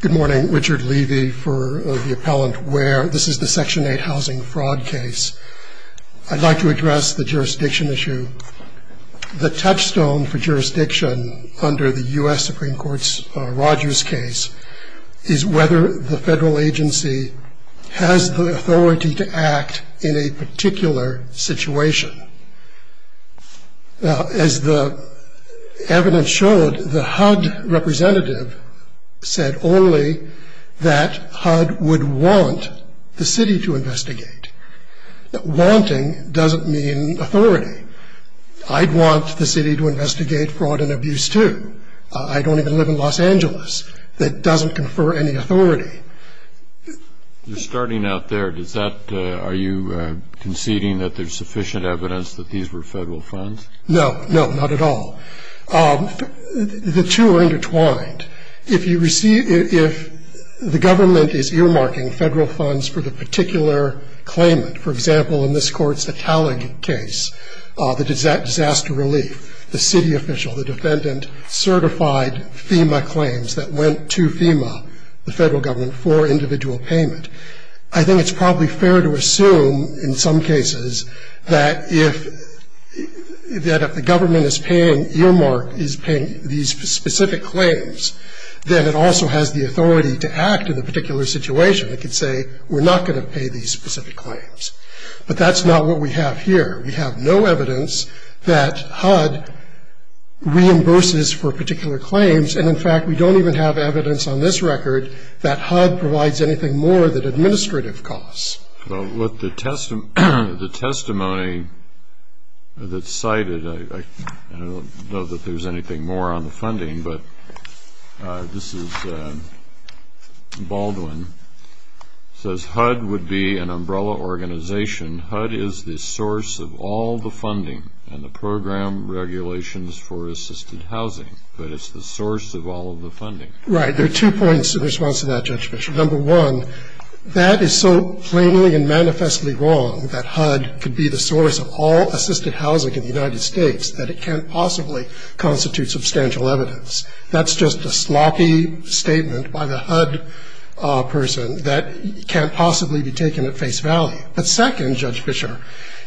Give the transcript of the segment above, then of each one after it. Good morning, Richard Levy for the Appellant Ware. This is the Section 8 housing fraud case. I'd like to address the jurisdiction issue. The touchstone for jurisdiction under the U.S. Supreme Court's Rogers case is whether the federal agency has the authority to act in a particular situation. Now, as the evidence showed, the HUD representative said only that HUD would want the city to investigate. Wanting doesn't mean authority. I'd want the city to investigate fraud and abuse, too. I don't even live in Los Angeles. That doesn't confer any authority. You're starting out there. Does that, are you conceding that there's sufficient evidence that these were federal funds? No, no, not at all. The two are intertwined. If you receive, if the government is earmarking federal funds for the particular claimant, for example, in this Court's Italic case, the disaster relief, the city official, the defendant, certified FEMA claims that went to FEMA, the federal government, for individual payment. I think it's probably fair to assume in some cases that if the government is paying, earmark is paying these specific claims, then it also has the authority to act in a particular situation. It could say, we're not going to pay these specific claims. But that's not what we have here. We have no evidence that HUD reimburses for particular claims. And, in fact, we don't even have evidence on this record that HUD provides anything more than administrative costs. Well, with the testimony that's cited, I don't know that there's anything more on the funding, but this is Baldwin. It says HUD would be an umbrella organization. HUD is the source of all the funding and the program regulations for assisted housing. But it's the source of all of the funding. Right. There are two points in response to that, Judge Bishop. Number one, that is so plainly and manifestly wrong, that HUD could be the source of all assisted housing in the United States, that it can't possibly constitute substantial evidence. That's just a sloppy statement by the HUD person that can't possibly be taken at face value. But second, Judge Fischer,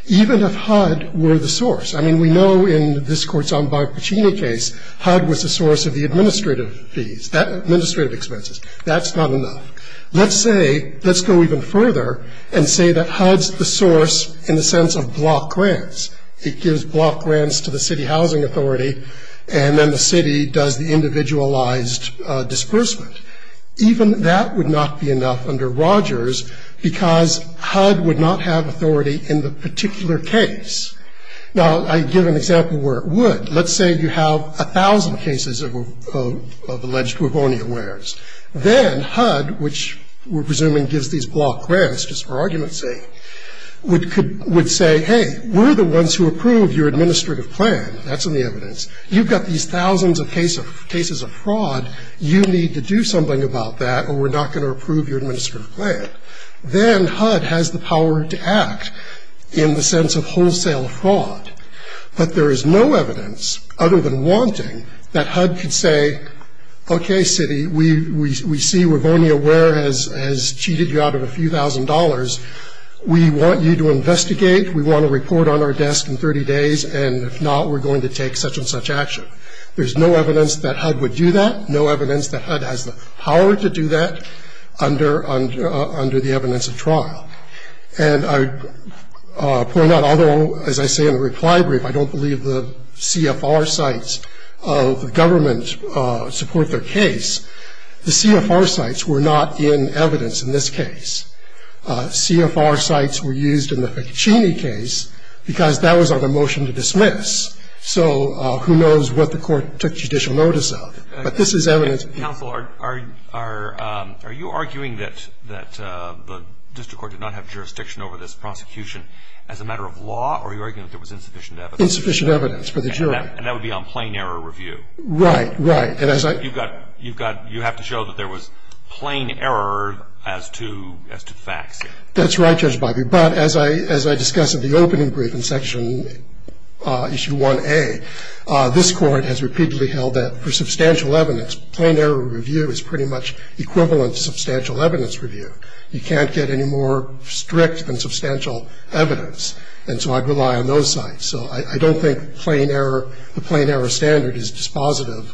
even if HUD were the source, I mean, we know in this Court's Ombud Puccini case HUD was the source of the administrative fees, administrative expenses. That's not enough. Let's say, let's go even further and say that HUD's the source in the sense of block grants. It gives block grants to the city housing authority, and then the city does the individualized disbursement. Even that would not be enough under Rogers, because HUD would not have authority in the particular case. Now, I give an example where it would. Let's say you have 1,000 cases of alleged bubonia wares. Then HUD, which we're presuming gives these block grants just for argument's sake, would say, hey, we're the ones who approved your administrative plan. That's in the evidence. You've got these thousands of cases of fraud. You need to do something about that, or we're not going to approve your administrative plan. Then HUD has the power to act in the sense of wholesale fraud. But there is no evidence other than wanting that HUD could say, okay, city, we see bubonia ware has cheated you out of a few thousand dollars. We want you to investigate. We want a report on our desk in 30 days, and if not, we're going to take such and such action. There's no evidence that HUD would do that. No evidence that HUD has the power to do that under the evidence of trial. And I point out, although, as I say in the reply brief, I don't believe the CFR sites of the government support their case, the CFR sites were not in evidence in this case. CFR sites were used in the Ficcicini case because that was on a motion to dismiss. So who knows what the court took judicial notice of. But this is evidence. But, counsel, are you arguing that the district court did not have jurisdiction over this prosecution as a matter of law, or are you arguing that there was insufficient evidence? Insufficient evidence for the jury. And that would be on plain error review. Right, right. You have to show that there was plain error as to the facts here. That's right, Judge Bobby. But as I discuss at the opening brief in Section Issue 1A, this Court has repeatedly held that for substantial evidence, plain error review is pretty much equivalent to substantial evidence review. You can't get any more strict than substantial evidence. And so I'd rely on those sites. So I don't think the plain error standard is dispositive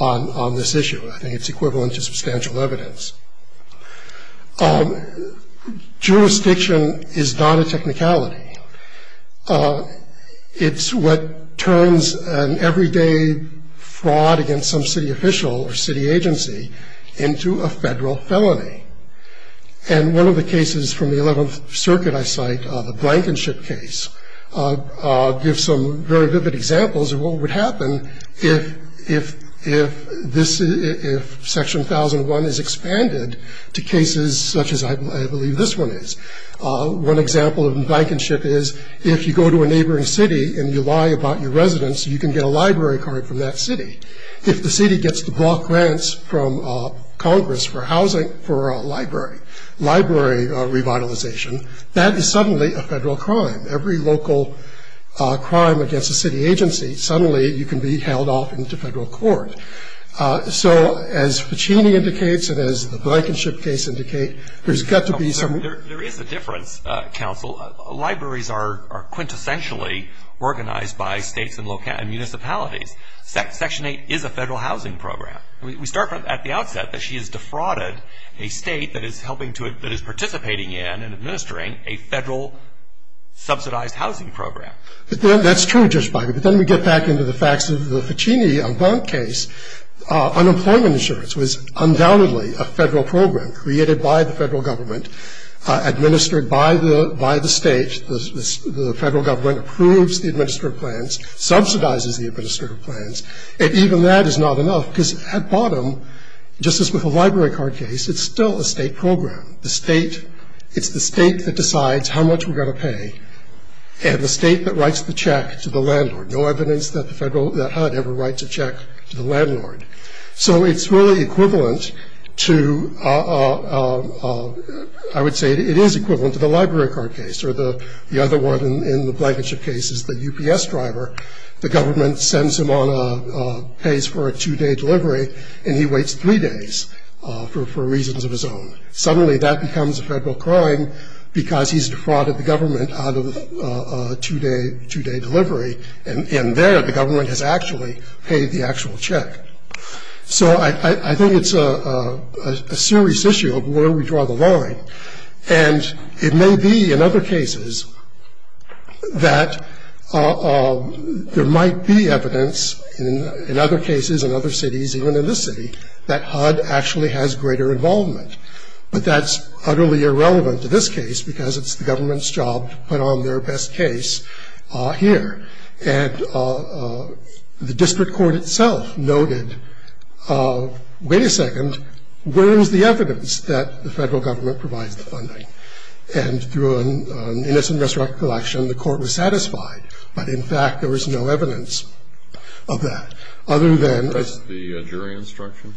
on this issue. I think it's equivalent to substantial evidence. Jurisdiction is not a technicality. It's what turns an everyday fraud against some city official or city agency into a Federal felony. And one of the cases from the Eleventh Circuit I cite, the Blankenship case, gives some very vivid examples of what would happen if this, if Section 1001 is expanded to cases such as I believe this one is. One example of Blankenship is if you go to a neighboring city and you lie about your residence, you can get a library card from that city. If the city gets the block grants from Congress for housing for a library, library revitalization, that is suddenly a Federal crime. Every local crime against a city agency, suddenly you can be held off into Federal court. So as Ficini indicates and as the Blankenship case indicate, there's got to be some sort of a mechanism in place. And there is a difference, counsel. Libraries are quintessentially organized by States and municipalities. Section 8 is a Federal housing program. We start at the outset that she has defrauded a State that is helping to, that is participating in and administering a Federal subsidized housing program. That's true, Judge Feigin. But then we get back into the facts of the Ficini case. Unemployment insurance was undoubtedly a Federal program created by the Federal government, administered by the State. The Federal government approves the administrative plans, subsidizes the administrative plans. And even that is not enough because at bottom, just as with the library card case, it's still a State program. The State, it's the State that decides how much we're going to pay and the State that writes the check to the landlord. No evidence that the Federal, that HUD ever writes a check to the landlord. So it's really equivalent to, I would say it is equivalent to the library card case. Or the other one in the Blankenship case is the UPS driver. The government sends him on a, pays for a two-day delivery and he waits three days for reasons of his own. Suddenly that becomes a Federal crime because he's defrauded the government out of a two-day, two-day delivery. And there the government has actually paid the actual check. So I think it's a serious issue of where we draw the line. And it may be in other cases that there might be evidence in other cases in other cities, even in this city, that HUD actually has greater involvement. But that's utterly irrelevant to this case because it's the government's job to put on their best case here. And the district court itself noted, wait a second, where is the evidence that the Federal government provides the funding? And through an innocent resurrection election, the court was satisfied. But in fact, there was no evidence of that. Other than- Would you address the jury instruction?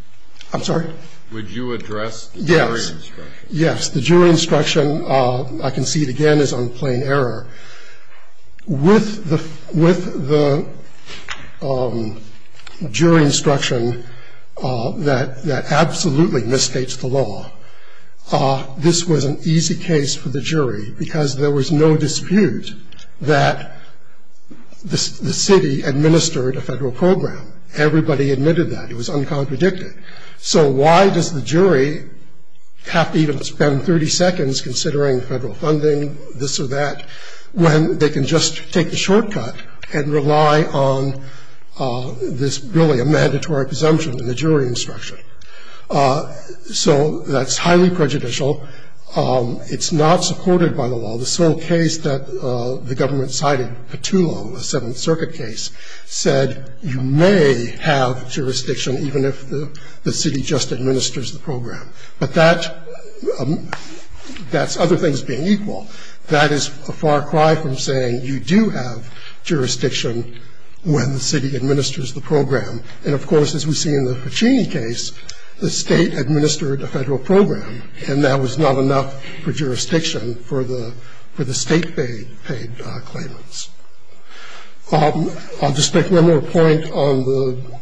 I'm sorry? Would you address the jury instruction? Yes, yes. The jury instruction, I can see it again, is on plain error. With the jury instruction that absolutely misstates the law, this was an easy case for the jury because there was no dispute that the city administered a Federal program. Everybody admitted that. It was uncontradicted. So why does the jury have to even spend 30 seconds considering Federal funding, this or that, when they can just take the shortcut and rely on this, really, a mandatory presumption in the jury instruction? So that's highly prejudicial. It's not supported by the law. The sole case that the government cited, Petula, the Seventh Circuit case, said you may have jurisdiction even if the city just administers the program. But that's other things being equal. That is a far cry from saying you do have jurisdiction when the city administers the program. And, of course, as we see in the Puccini case, the State administered a Federal program, and that was not enough for jurisdiction for the State-paid claimants. I'll just make one more point on the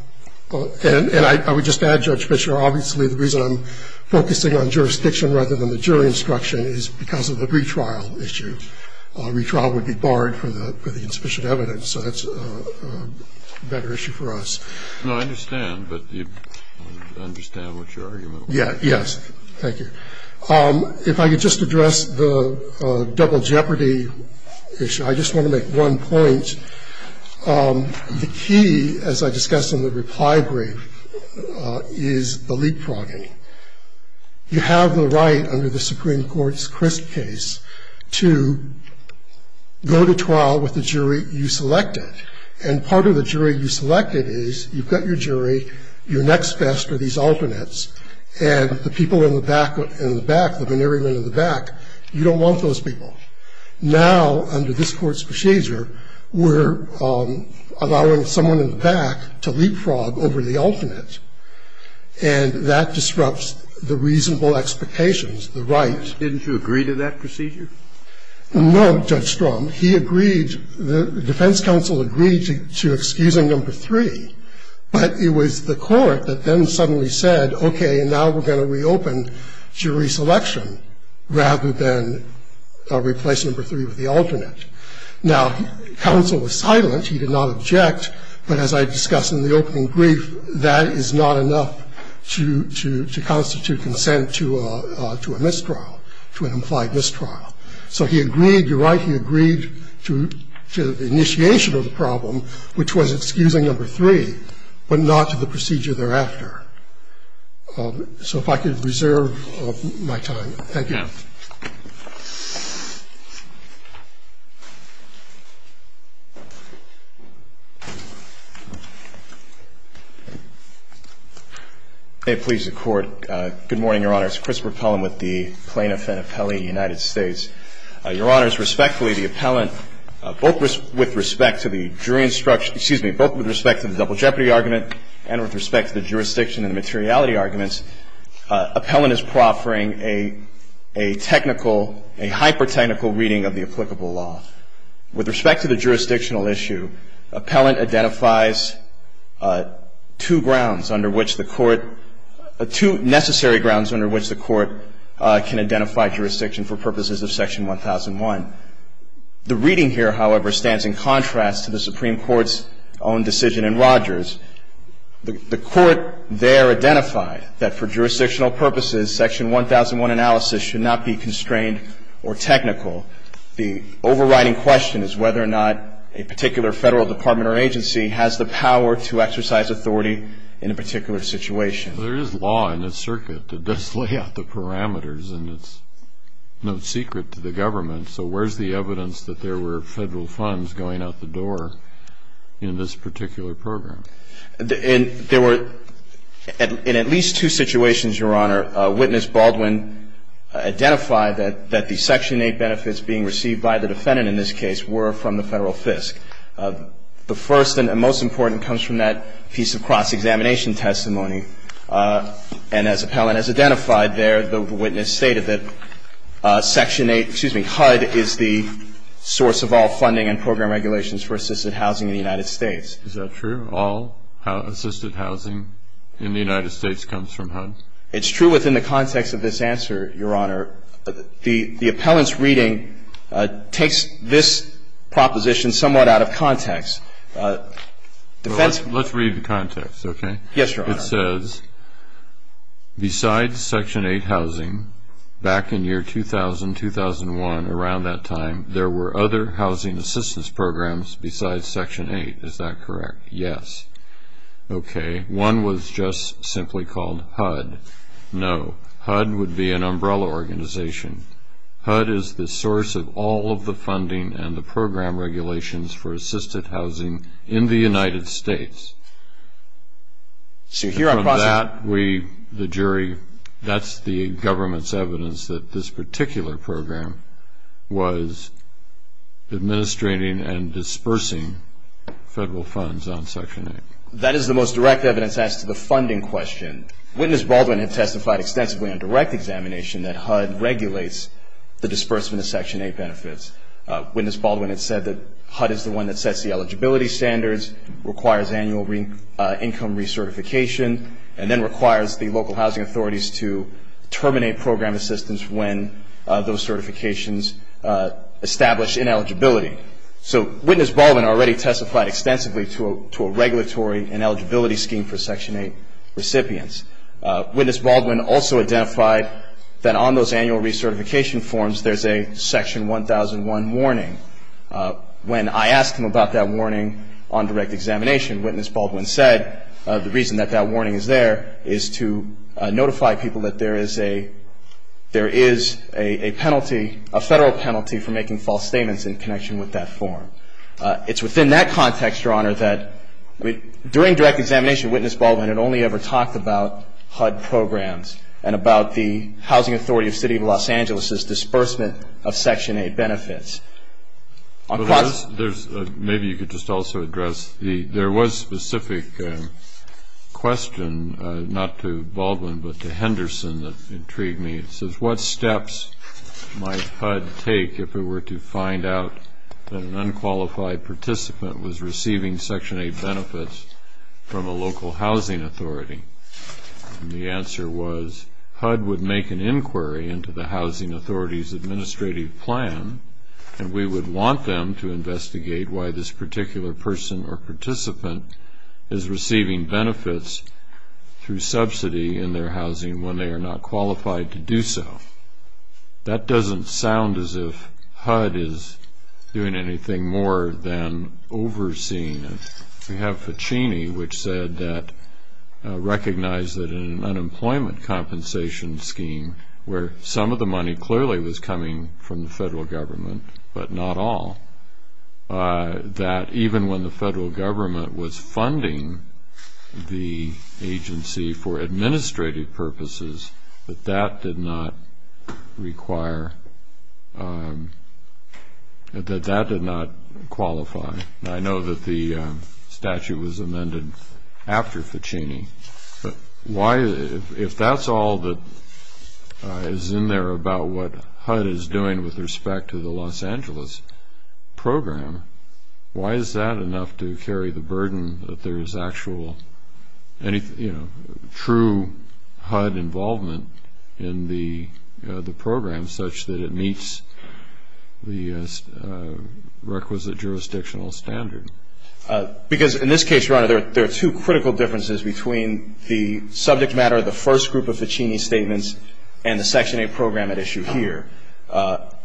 – and I would just add, Judge Fischer, obviously the reason I'm focusing on jurisdiction rather than the jury instruction is because of the retrial issue. Retrial would be barred for the insufficient evidence, so that's a better issue for us. No, I understand, but I understand what your argument was. Yes. Thank you. If I could just address the double jeopardy issue. I just want to make one point. The key, as I discussed in the reply brief, is the leapfrogging. You have the right under the Supreme Court's Crisp case to go to trial with the jury you selected. And part of the jury you selected is you've got your jury, your next best are these men in the back, the veneering men in the back. You don't want those people. Now, under this Court's procedure, we're allowing someone in the back to leapfrog over the alternate, and that disrupts the reasonable expectations, the right. Didn't you agree to that procedure? No, Judge Strom. He agreed – the defense counsel agreed to excusing them for three, but it was the jury selection rather than replace number three with the alternate. Now, counsel was silent. He did not object. But as I discussed in the opening brief, that is not enough to constitute consent to a mistrial, to an implied mistrial. So he agreed – you're right, he agreed to the initiation of the problem, which was excusing number three, but not to the procedure thereafter. So if I could reserve my time. Thank you. Yeah. May it please the Court. Good morning, Your Honor. It's Chris Burpell. I'm with the plaintiff and appellee in the United States. Your Honors, respectfully, the appellant, both with respect to the jury instruction – excuse me – both with respect to the double jeopardy argument and with respect to the jurisdiction and the materiality arguments, appellant is proffering a technical – a hyper-technical reading of the applicable law. With respect to the jurisdictional issue, appellant identifies two grounds under which the Court – two necessary grounds under which the Court can identify jurisdiction for purposes of Section 1001. The reading here, however, stands in contrast to the Supreme Court's own decision in Rogers. The Court there identified that for jurisdictional purposes, Section 1001 analysis should not be constrained or technical. The overriding question is whether or not a particular Federal Department or agency has the power to exercise authority in a particular situation. There is law in this circuit that does lay out the parameters, and it's no secret to the government. So where's the evidence that there were Federal funds going out the door in this particular program? And there were – in at least two situations, Your Honor, witness Baldwin identified that the Section 8 benefits being received by the defendant in this case were from the Federal FISC. The first and most important comes from that piece of cross-examination testimony. And as appellant has identified there, the witness stated that Section 8 – excuse me, Section 8 housing was provided by HUD. HUD is the source of all funding and program regulations for assisted housing in the United States. Is that true? All assisted housing in the United States comes from HUD? It's true within the context of this answer, Your Honor. The appellant's reading takes this proposition somewhat out of context. Let's read the context, okay? Yes, Your Honor. It says, besides Section 8 housing, back in year 2000-2001, around that time, there were other housing assistance programs besides Section 8. Is that correct? Yes. Okay. One was just simply called HUD. No, HUD would be an umbrella organization. HUD is the source of all of the funding and the program regulations for assisted housing in the United States. From that, we, the jury, that's the government's evidence that this particular program was administrating and dispersing federal funds on Section 8. That is the most direct evidence as to the funding question. Witness Baldwin had testified extensively on direct examination that HUD regulates the disbursement of Section 8 benefits. Witness Baldwin had said that HUD is the one that sets the eligibility standards, requires annual income recertification, and then requires the local housing authorities to terminate program assistance when those certifications establish ineligibility. So Witness Baldwin already testified extensively to a regulatory ineligibility scheme for Section 8 recipients. Witness Baldwin also identified that on those annual recertification forms, there's a Section 1001 warning. When I asked him about that warning on direct examination, Witness Baldwin said the reason that that warning is there is to notify people that there is a penalty, a federal penalty, for making false statements in connection with that form. It's within that context, Your Honor, that during direct examination, Witness Baldwin had only ever talked about HUD programs and about the housing authority of the City of Los Angeles' disbursement of Section 8 benefits. Maybe you could just also address, there was a specific question not to Baldwin but to Henderson that intrigued me. It says, what steps might HUD take if it were to find out that an unqualified participant was receiving Section 8 benefits from a local housing authority? And the answer was HUD would make an inquiry into the housing authority's administrative plan, and we would want them to investigate why this particular person or participant is receiving benefits through subsidy in their housing when they are not qualified to do so. That doesn't sound as if HUD is doing anything more than overseeing it. We have Ficini, which said that, recognize that in an unemployment compensation scheme where some of the money clearly was coming from the federal government but not all, that even when the federal government was funding the agency for administrative purposes that that did not require, that that did not qualify. I know that the statute was amended after Ficini, but if that's all that is in there about what HUD is doing with respect to the Los Angeles program, why is that enough to carry the burden that there is actual, true HUD involvement in the program such that it meets the requisite jurisdictional standard? Because in this case, Your Honor, there are two critical differences between the subject matter of the first group of Ficini statements and the Section 8 program at issue here,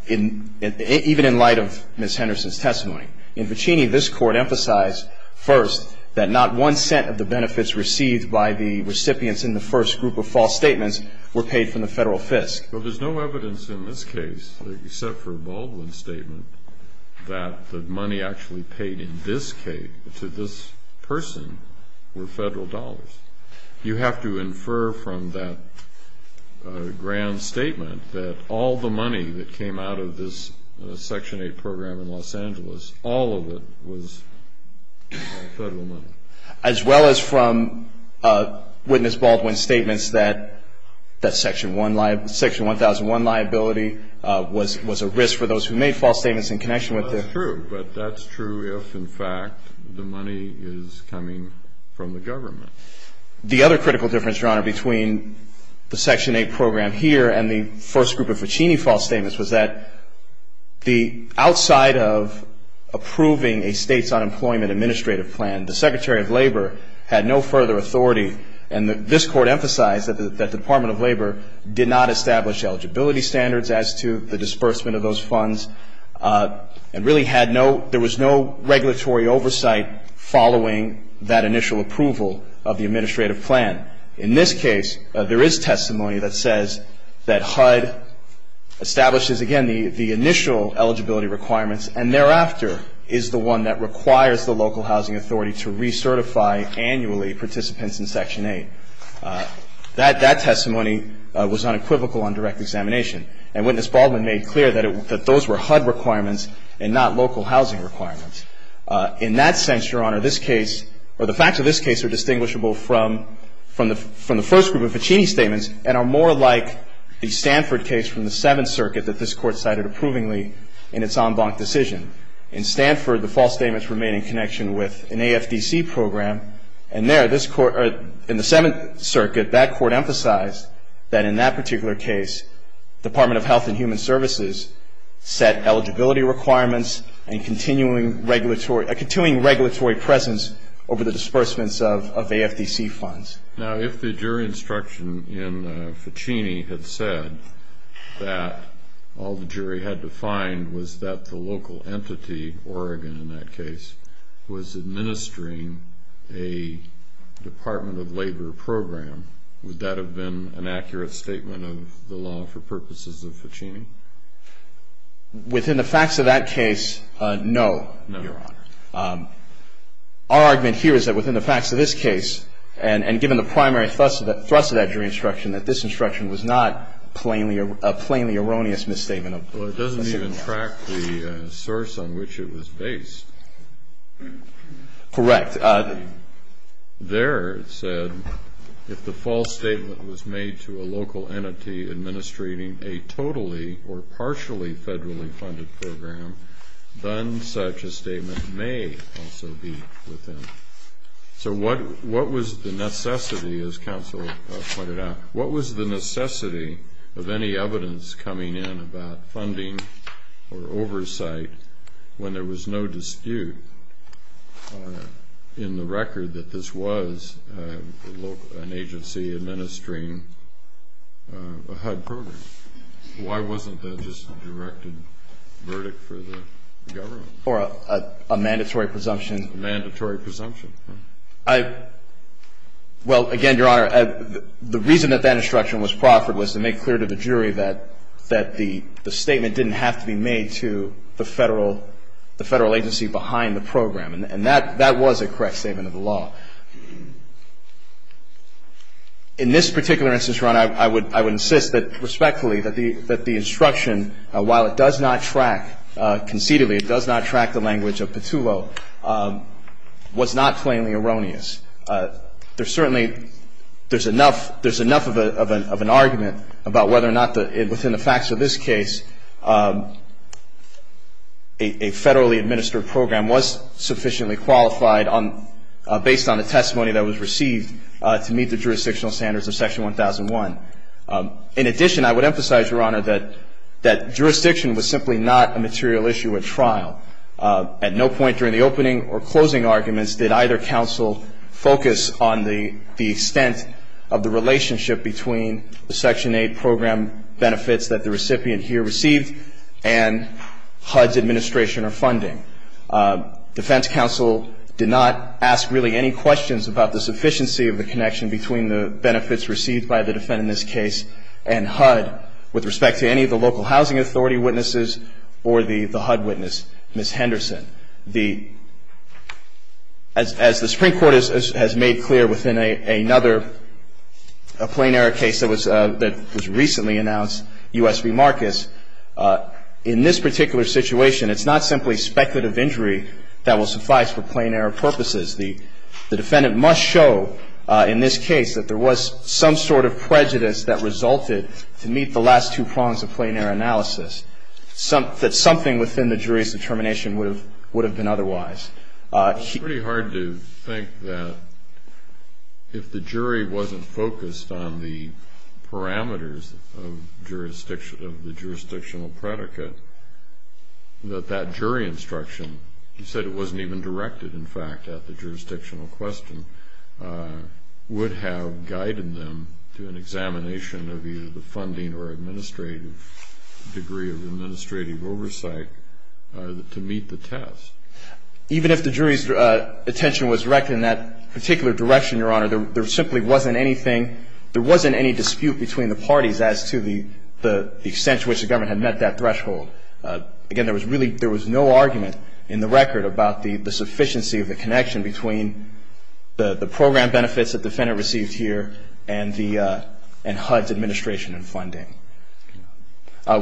even in light of Ms. Henderson's testimony. In Ficini, this Court emphasized first that not one cent of the benefits received by the recipients in the first group of false statements were paid from the federal FISC. But there's no evidence in this case, except for a Baldwin statement, that the money actually paid in this case to this person were federal dollars. You have to infer from that grand statement that all the money that came out of this Section 8 program in Los Angeles, all of it was federal money. As well as from Witness Baldwin's statements that Section 1001 liability was a risk for those who made false statements in connection with it. Well, that's true. But that's true if, in fact, the money is coming from the government. The other critical difference, Your Honor, between the Section 8 program here and the first group of Ficini false statements was that outside of approving a state's unemployment administrative plan, the Secretary of Labor had no further authority. And this Court emphasized that the Department of Labor did not establish eligibility standards as to the disbursement of those funds. And really had no, there was no regulatory oversight following that initial approval of the administrative plan. In this case, there is testimony that says that HUD establishes, again, the initial eligibility requirements, and thereafter is the one that requires the local housing authority to recertify annually participants in Section 8. That testimony was unequivocal on direct examination. And Witness Baldwin made clear that those were HUD requirements and not local housing requirements. In that sense, Your Honor, the facts of this case are distinguishable from the first group of Ficini statements and are more like the Stanford case from the Seventh Circuit that this Court cited approvingly in its en banc decision. In Stanford, the false statements remain in connection with an AFDC program. And there, in the Seventh Circuit, that Court emphasized that in that particular case, Department of Health and Human Services set eligibility requirements and continuing regulatory presence over the disbursements of AFDC funds. Now, if the jury instruction in Ficini had said that all the jury had to find was that the local entity, Oregon in that case, was administering a Department of Labor program, would that have been an accurate statement of the law for purposes of Ficini? Within the facts of that case, no, Your Honor. Our argument here is that within the facts of this case, and given the primary thrust of that jury instruction, that this instruction was not a plainly erroneous misstatement. Well, it doesn't even track the source on which it was based. Correct. There it said, if the false statement was made to a local entity administrating a totally or partially federally funded program, then such a statement may also be within. So what was the necessity, as counsel pointed out, what was the necessity of any evidence coming in about funding or oversight when there was no dispute in the record that this was an agency administering a HUD program? Why wasn't that just a directed verdict for the government? Or a mandatory presumption. Mandatory presumption. I, well, again, Your Honor, the reason that that instruction was proffered was to make clear to the jury that the statement didn't have to be made to the federal agency behind the program. And that was a correct statement of the law. In this particular instance, Your Honor, I would insist that, respectfully, that the instruction, while it does not track, concededly, it does not track the language of Petullo, was not plainly erroneous. There certainly, there's enough, there's enough of an argument about whether or not, within the facts of this case, a federally administered program was sufficiently qualified based on the testimony that was received to meet the jurisdictional standards of Section 1001. In addition, I would emphasize, Your Honor, that jurisdiction was simply not a material issue at trial. At no point during the opening or closing arguments did either counsel focus on the extent of the relationship between the Section 8 program benefits that the recipient here received and HUD's administration or funding. Defense counsel did not ask, really, any questions about the sufficiency of the connection between the benefits received by the defendant in this case and HUD with respect to any of the local housing authority witnesses or the HUD witness, Ms. Henderson. As the Supreme Court has made clear within another plain error case that was recently announced, U.S. v. Marcus, in this particular situation, it's not simply speculative injury that will suffice for plain error purposes. The defendant must show in this case that there was some sort of prejudice that resulted to meet the last two prongs of plain error analysis, that something within the jury's determination would have been otherwise. It's pretty hard to think that if the jury wasn't focused on the parameters of the jurisdictional predicate, that that jury instruction, you said it wasn't even directed, in fact, at the jurisdictional question, would have guided them to an examination of either the funding or administrative degree of administrative oversight to meet the test. Even if the jury's attention was directed in that particular direction, Your Honor, there simply wasn't anything, there wasn't any dispute between the parties as to the extent to which the government had met that threshold. Again, there was no argument in the record about the sufficiency of the connection between the program benefits that the defendant received here and HUD's administration and funding.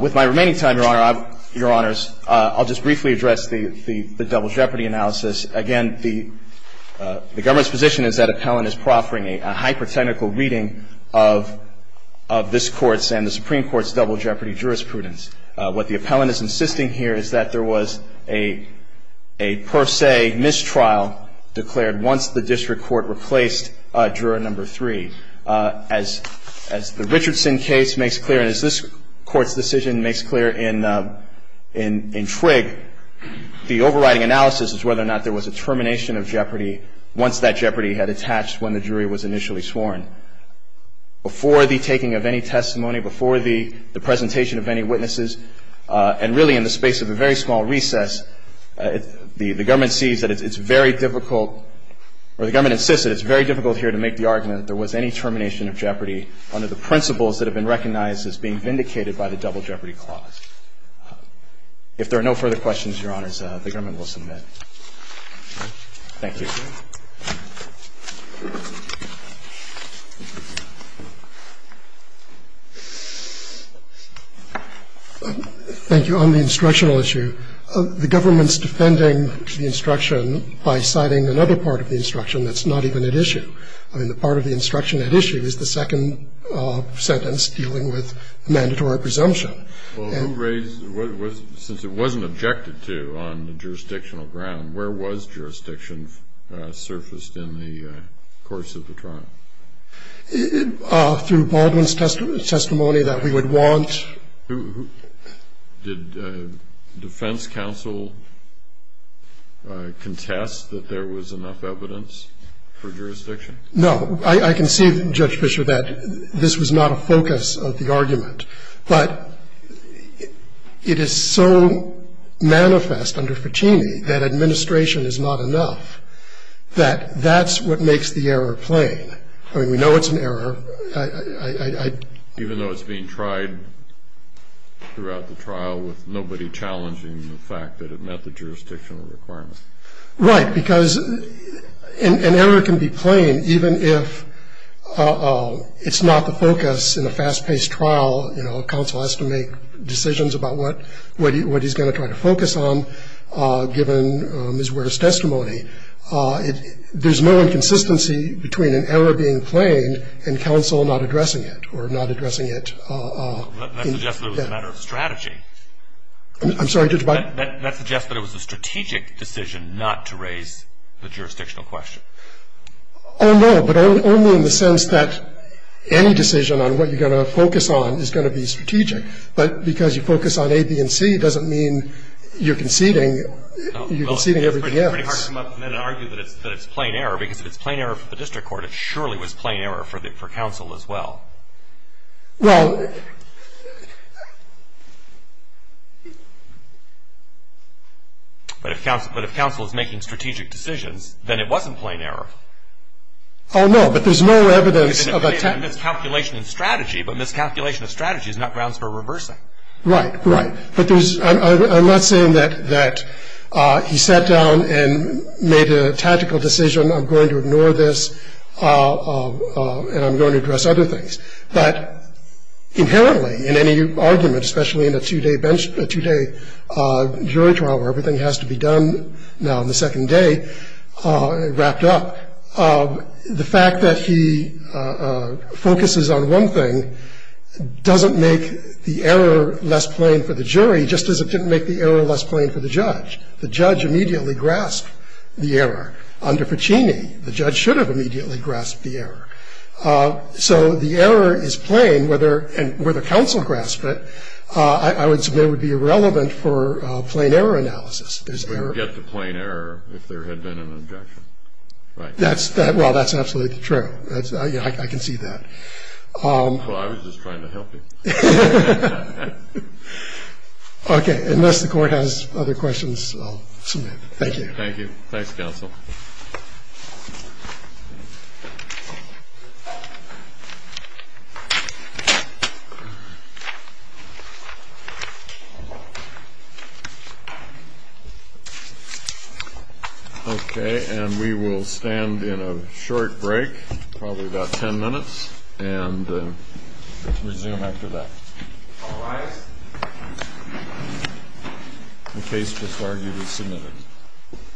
With my remaining time, Your Honor, Your Honors, I'll just briefly address the double jeopardy analysis. Again, the government's position is that appellant is proffering a hyper-technical reading of this Court's and the Supreme Court's double jeopardy jurisprudence. What the appellant is insisting here is that there was a per se mistrial declared once the district court replaced juror number three. As the Richardson case makes clear, and as this Court's decision makes clear in Trigg, the overriding analysis is whether or not there was a termination of jeopardy once that jeopardy had attached when the jury was initially sworn. Before the taking of any testimony, before the presentation of any witnesses, and really in the space of a very small recess, the government sees that it's very difficult, or the government insists that it's very difficult here to make the argument that there was any termination of jeopardy under the principles that have been recognized as being vindicated by the double jeopardy clause. If there are no further questions, Your Honors, the government will submit. Thank you. Thank you. On the instructional issue, the government's defending the instruction by citing another part of the instruction that's not even at issue. I mean, the part of the instruction at issue is the second sentence dealing with mandatory presumption. Well, who raised, since it wasn't objected to on the jurisdictional ground, where was jurisdiction surfaced in the course of the trial? Through Baldwin's testimony that we would want. Did defense counsel contest that there was enough evidence for jurisdiction No. I can see, Judge Fischer, that this was not a focus of the argument. But it is so manifest under Fettini that administration is not enough, that that's what makes the error plain. I mean, we know it's an error. Even though it's being tried throughout the trial with nobody challenging the fact that it met the jurisdictional requirements. Right. Because an error can be plain even if it's not the focus in a fast-paced trial. You know, counsel has to make decisions about what he's going to try to focus on given Ms. Ware's testimony. There's no inconsistency between an error being plain and counsel not addressing it or not addressing it. That suggests that it was a matter of strategy. I'm sorry, Judge Baldwin. That suggests that it was a strategic decision not to raise the jurisdictional question. Oh, no. But only in the sense that any decision on what you're going to focus on is going to be strategic. But because you focus on A, B, and C, it doesn't mean you're conceding. You're conceding everything else. It's pretty hard to come up with an argument that it's plain error, because if it's plain error for the district court, it surely was plain error for counsel as well. Well. But if counsel is making strategic decisions, then it wasn't plain error. Oh, no. But there's no evidence of attempt. It's a miscalculation of strategy, but miscalculation of strategy is not grounds for reversing. Right. Right. But I'm not saying that he sat down and made a tactical decision, I'm going to ignore this, and I'm going to address other things. But inherently, in any argument, especially in a two-day bench, a two-day jury trial where everything has to be done now on the second day, wrapped up, the fact that he focuses on one thing doesn't make the error less plain for the jury, just as it didn't make the error less plain for the judge. The judge immediately grasped the error. Under Ficini, the judge should have immediately grasped the error. So the error is plain whether, and whether counsel grasped it, I would submit would be irrelevant for plain error analysis. There's error. But you get the plain error if there had been an objection. Right. That's, well, that's absolutely true. I can see that. Well, I was just trying to help you. Okay. Unless the Court has other questions, I'll submit. Thank you. Thank you. Thanks, counsel. Okay. And we will stand in a short break, probably about ten minutes, and resume after that. All rise. The case was argued and submitted.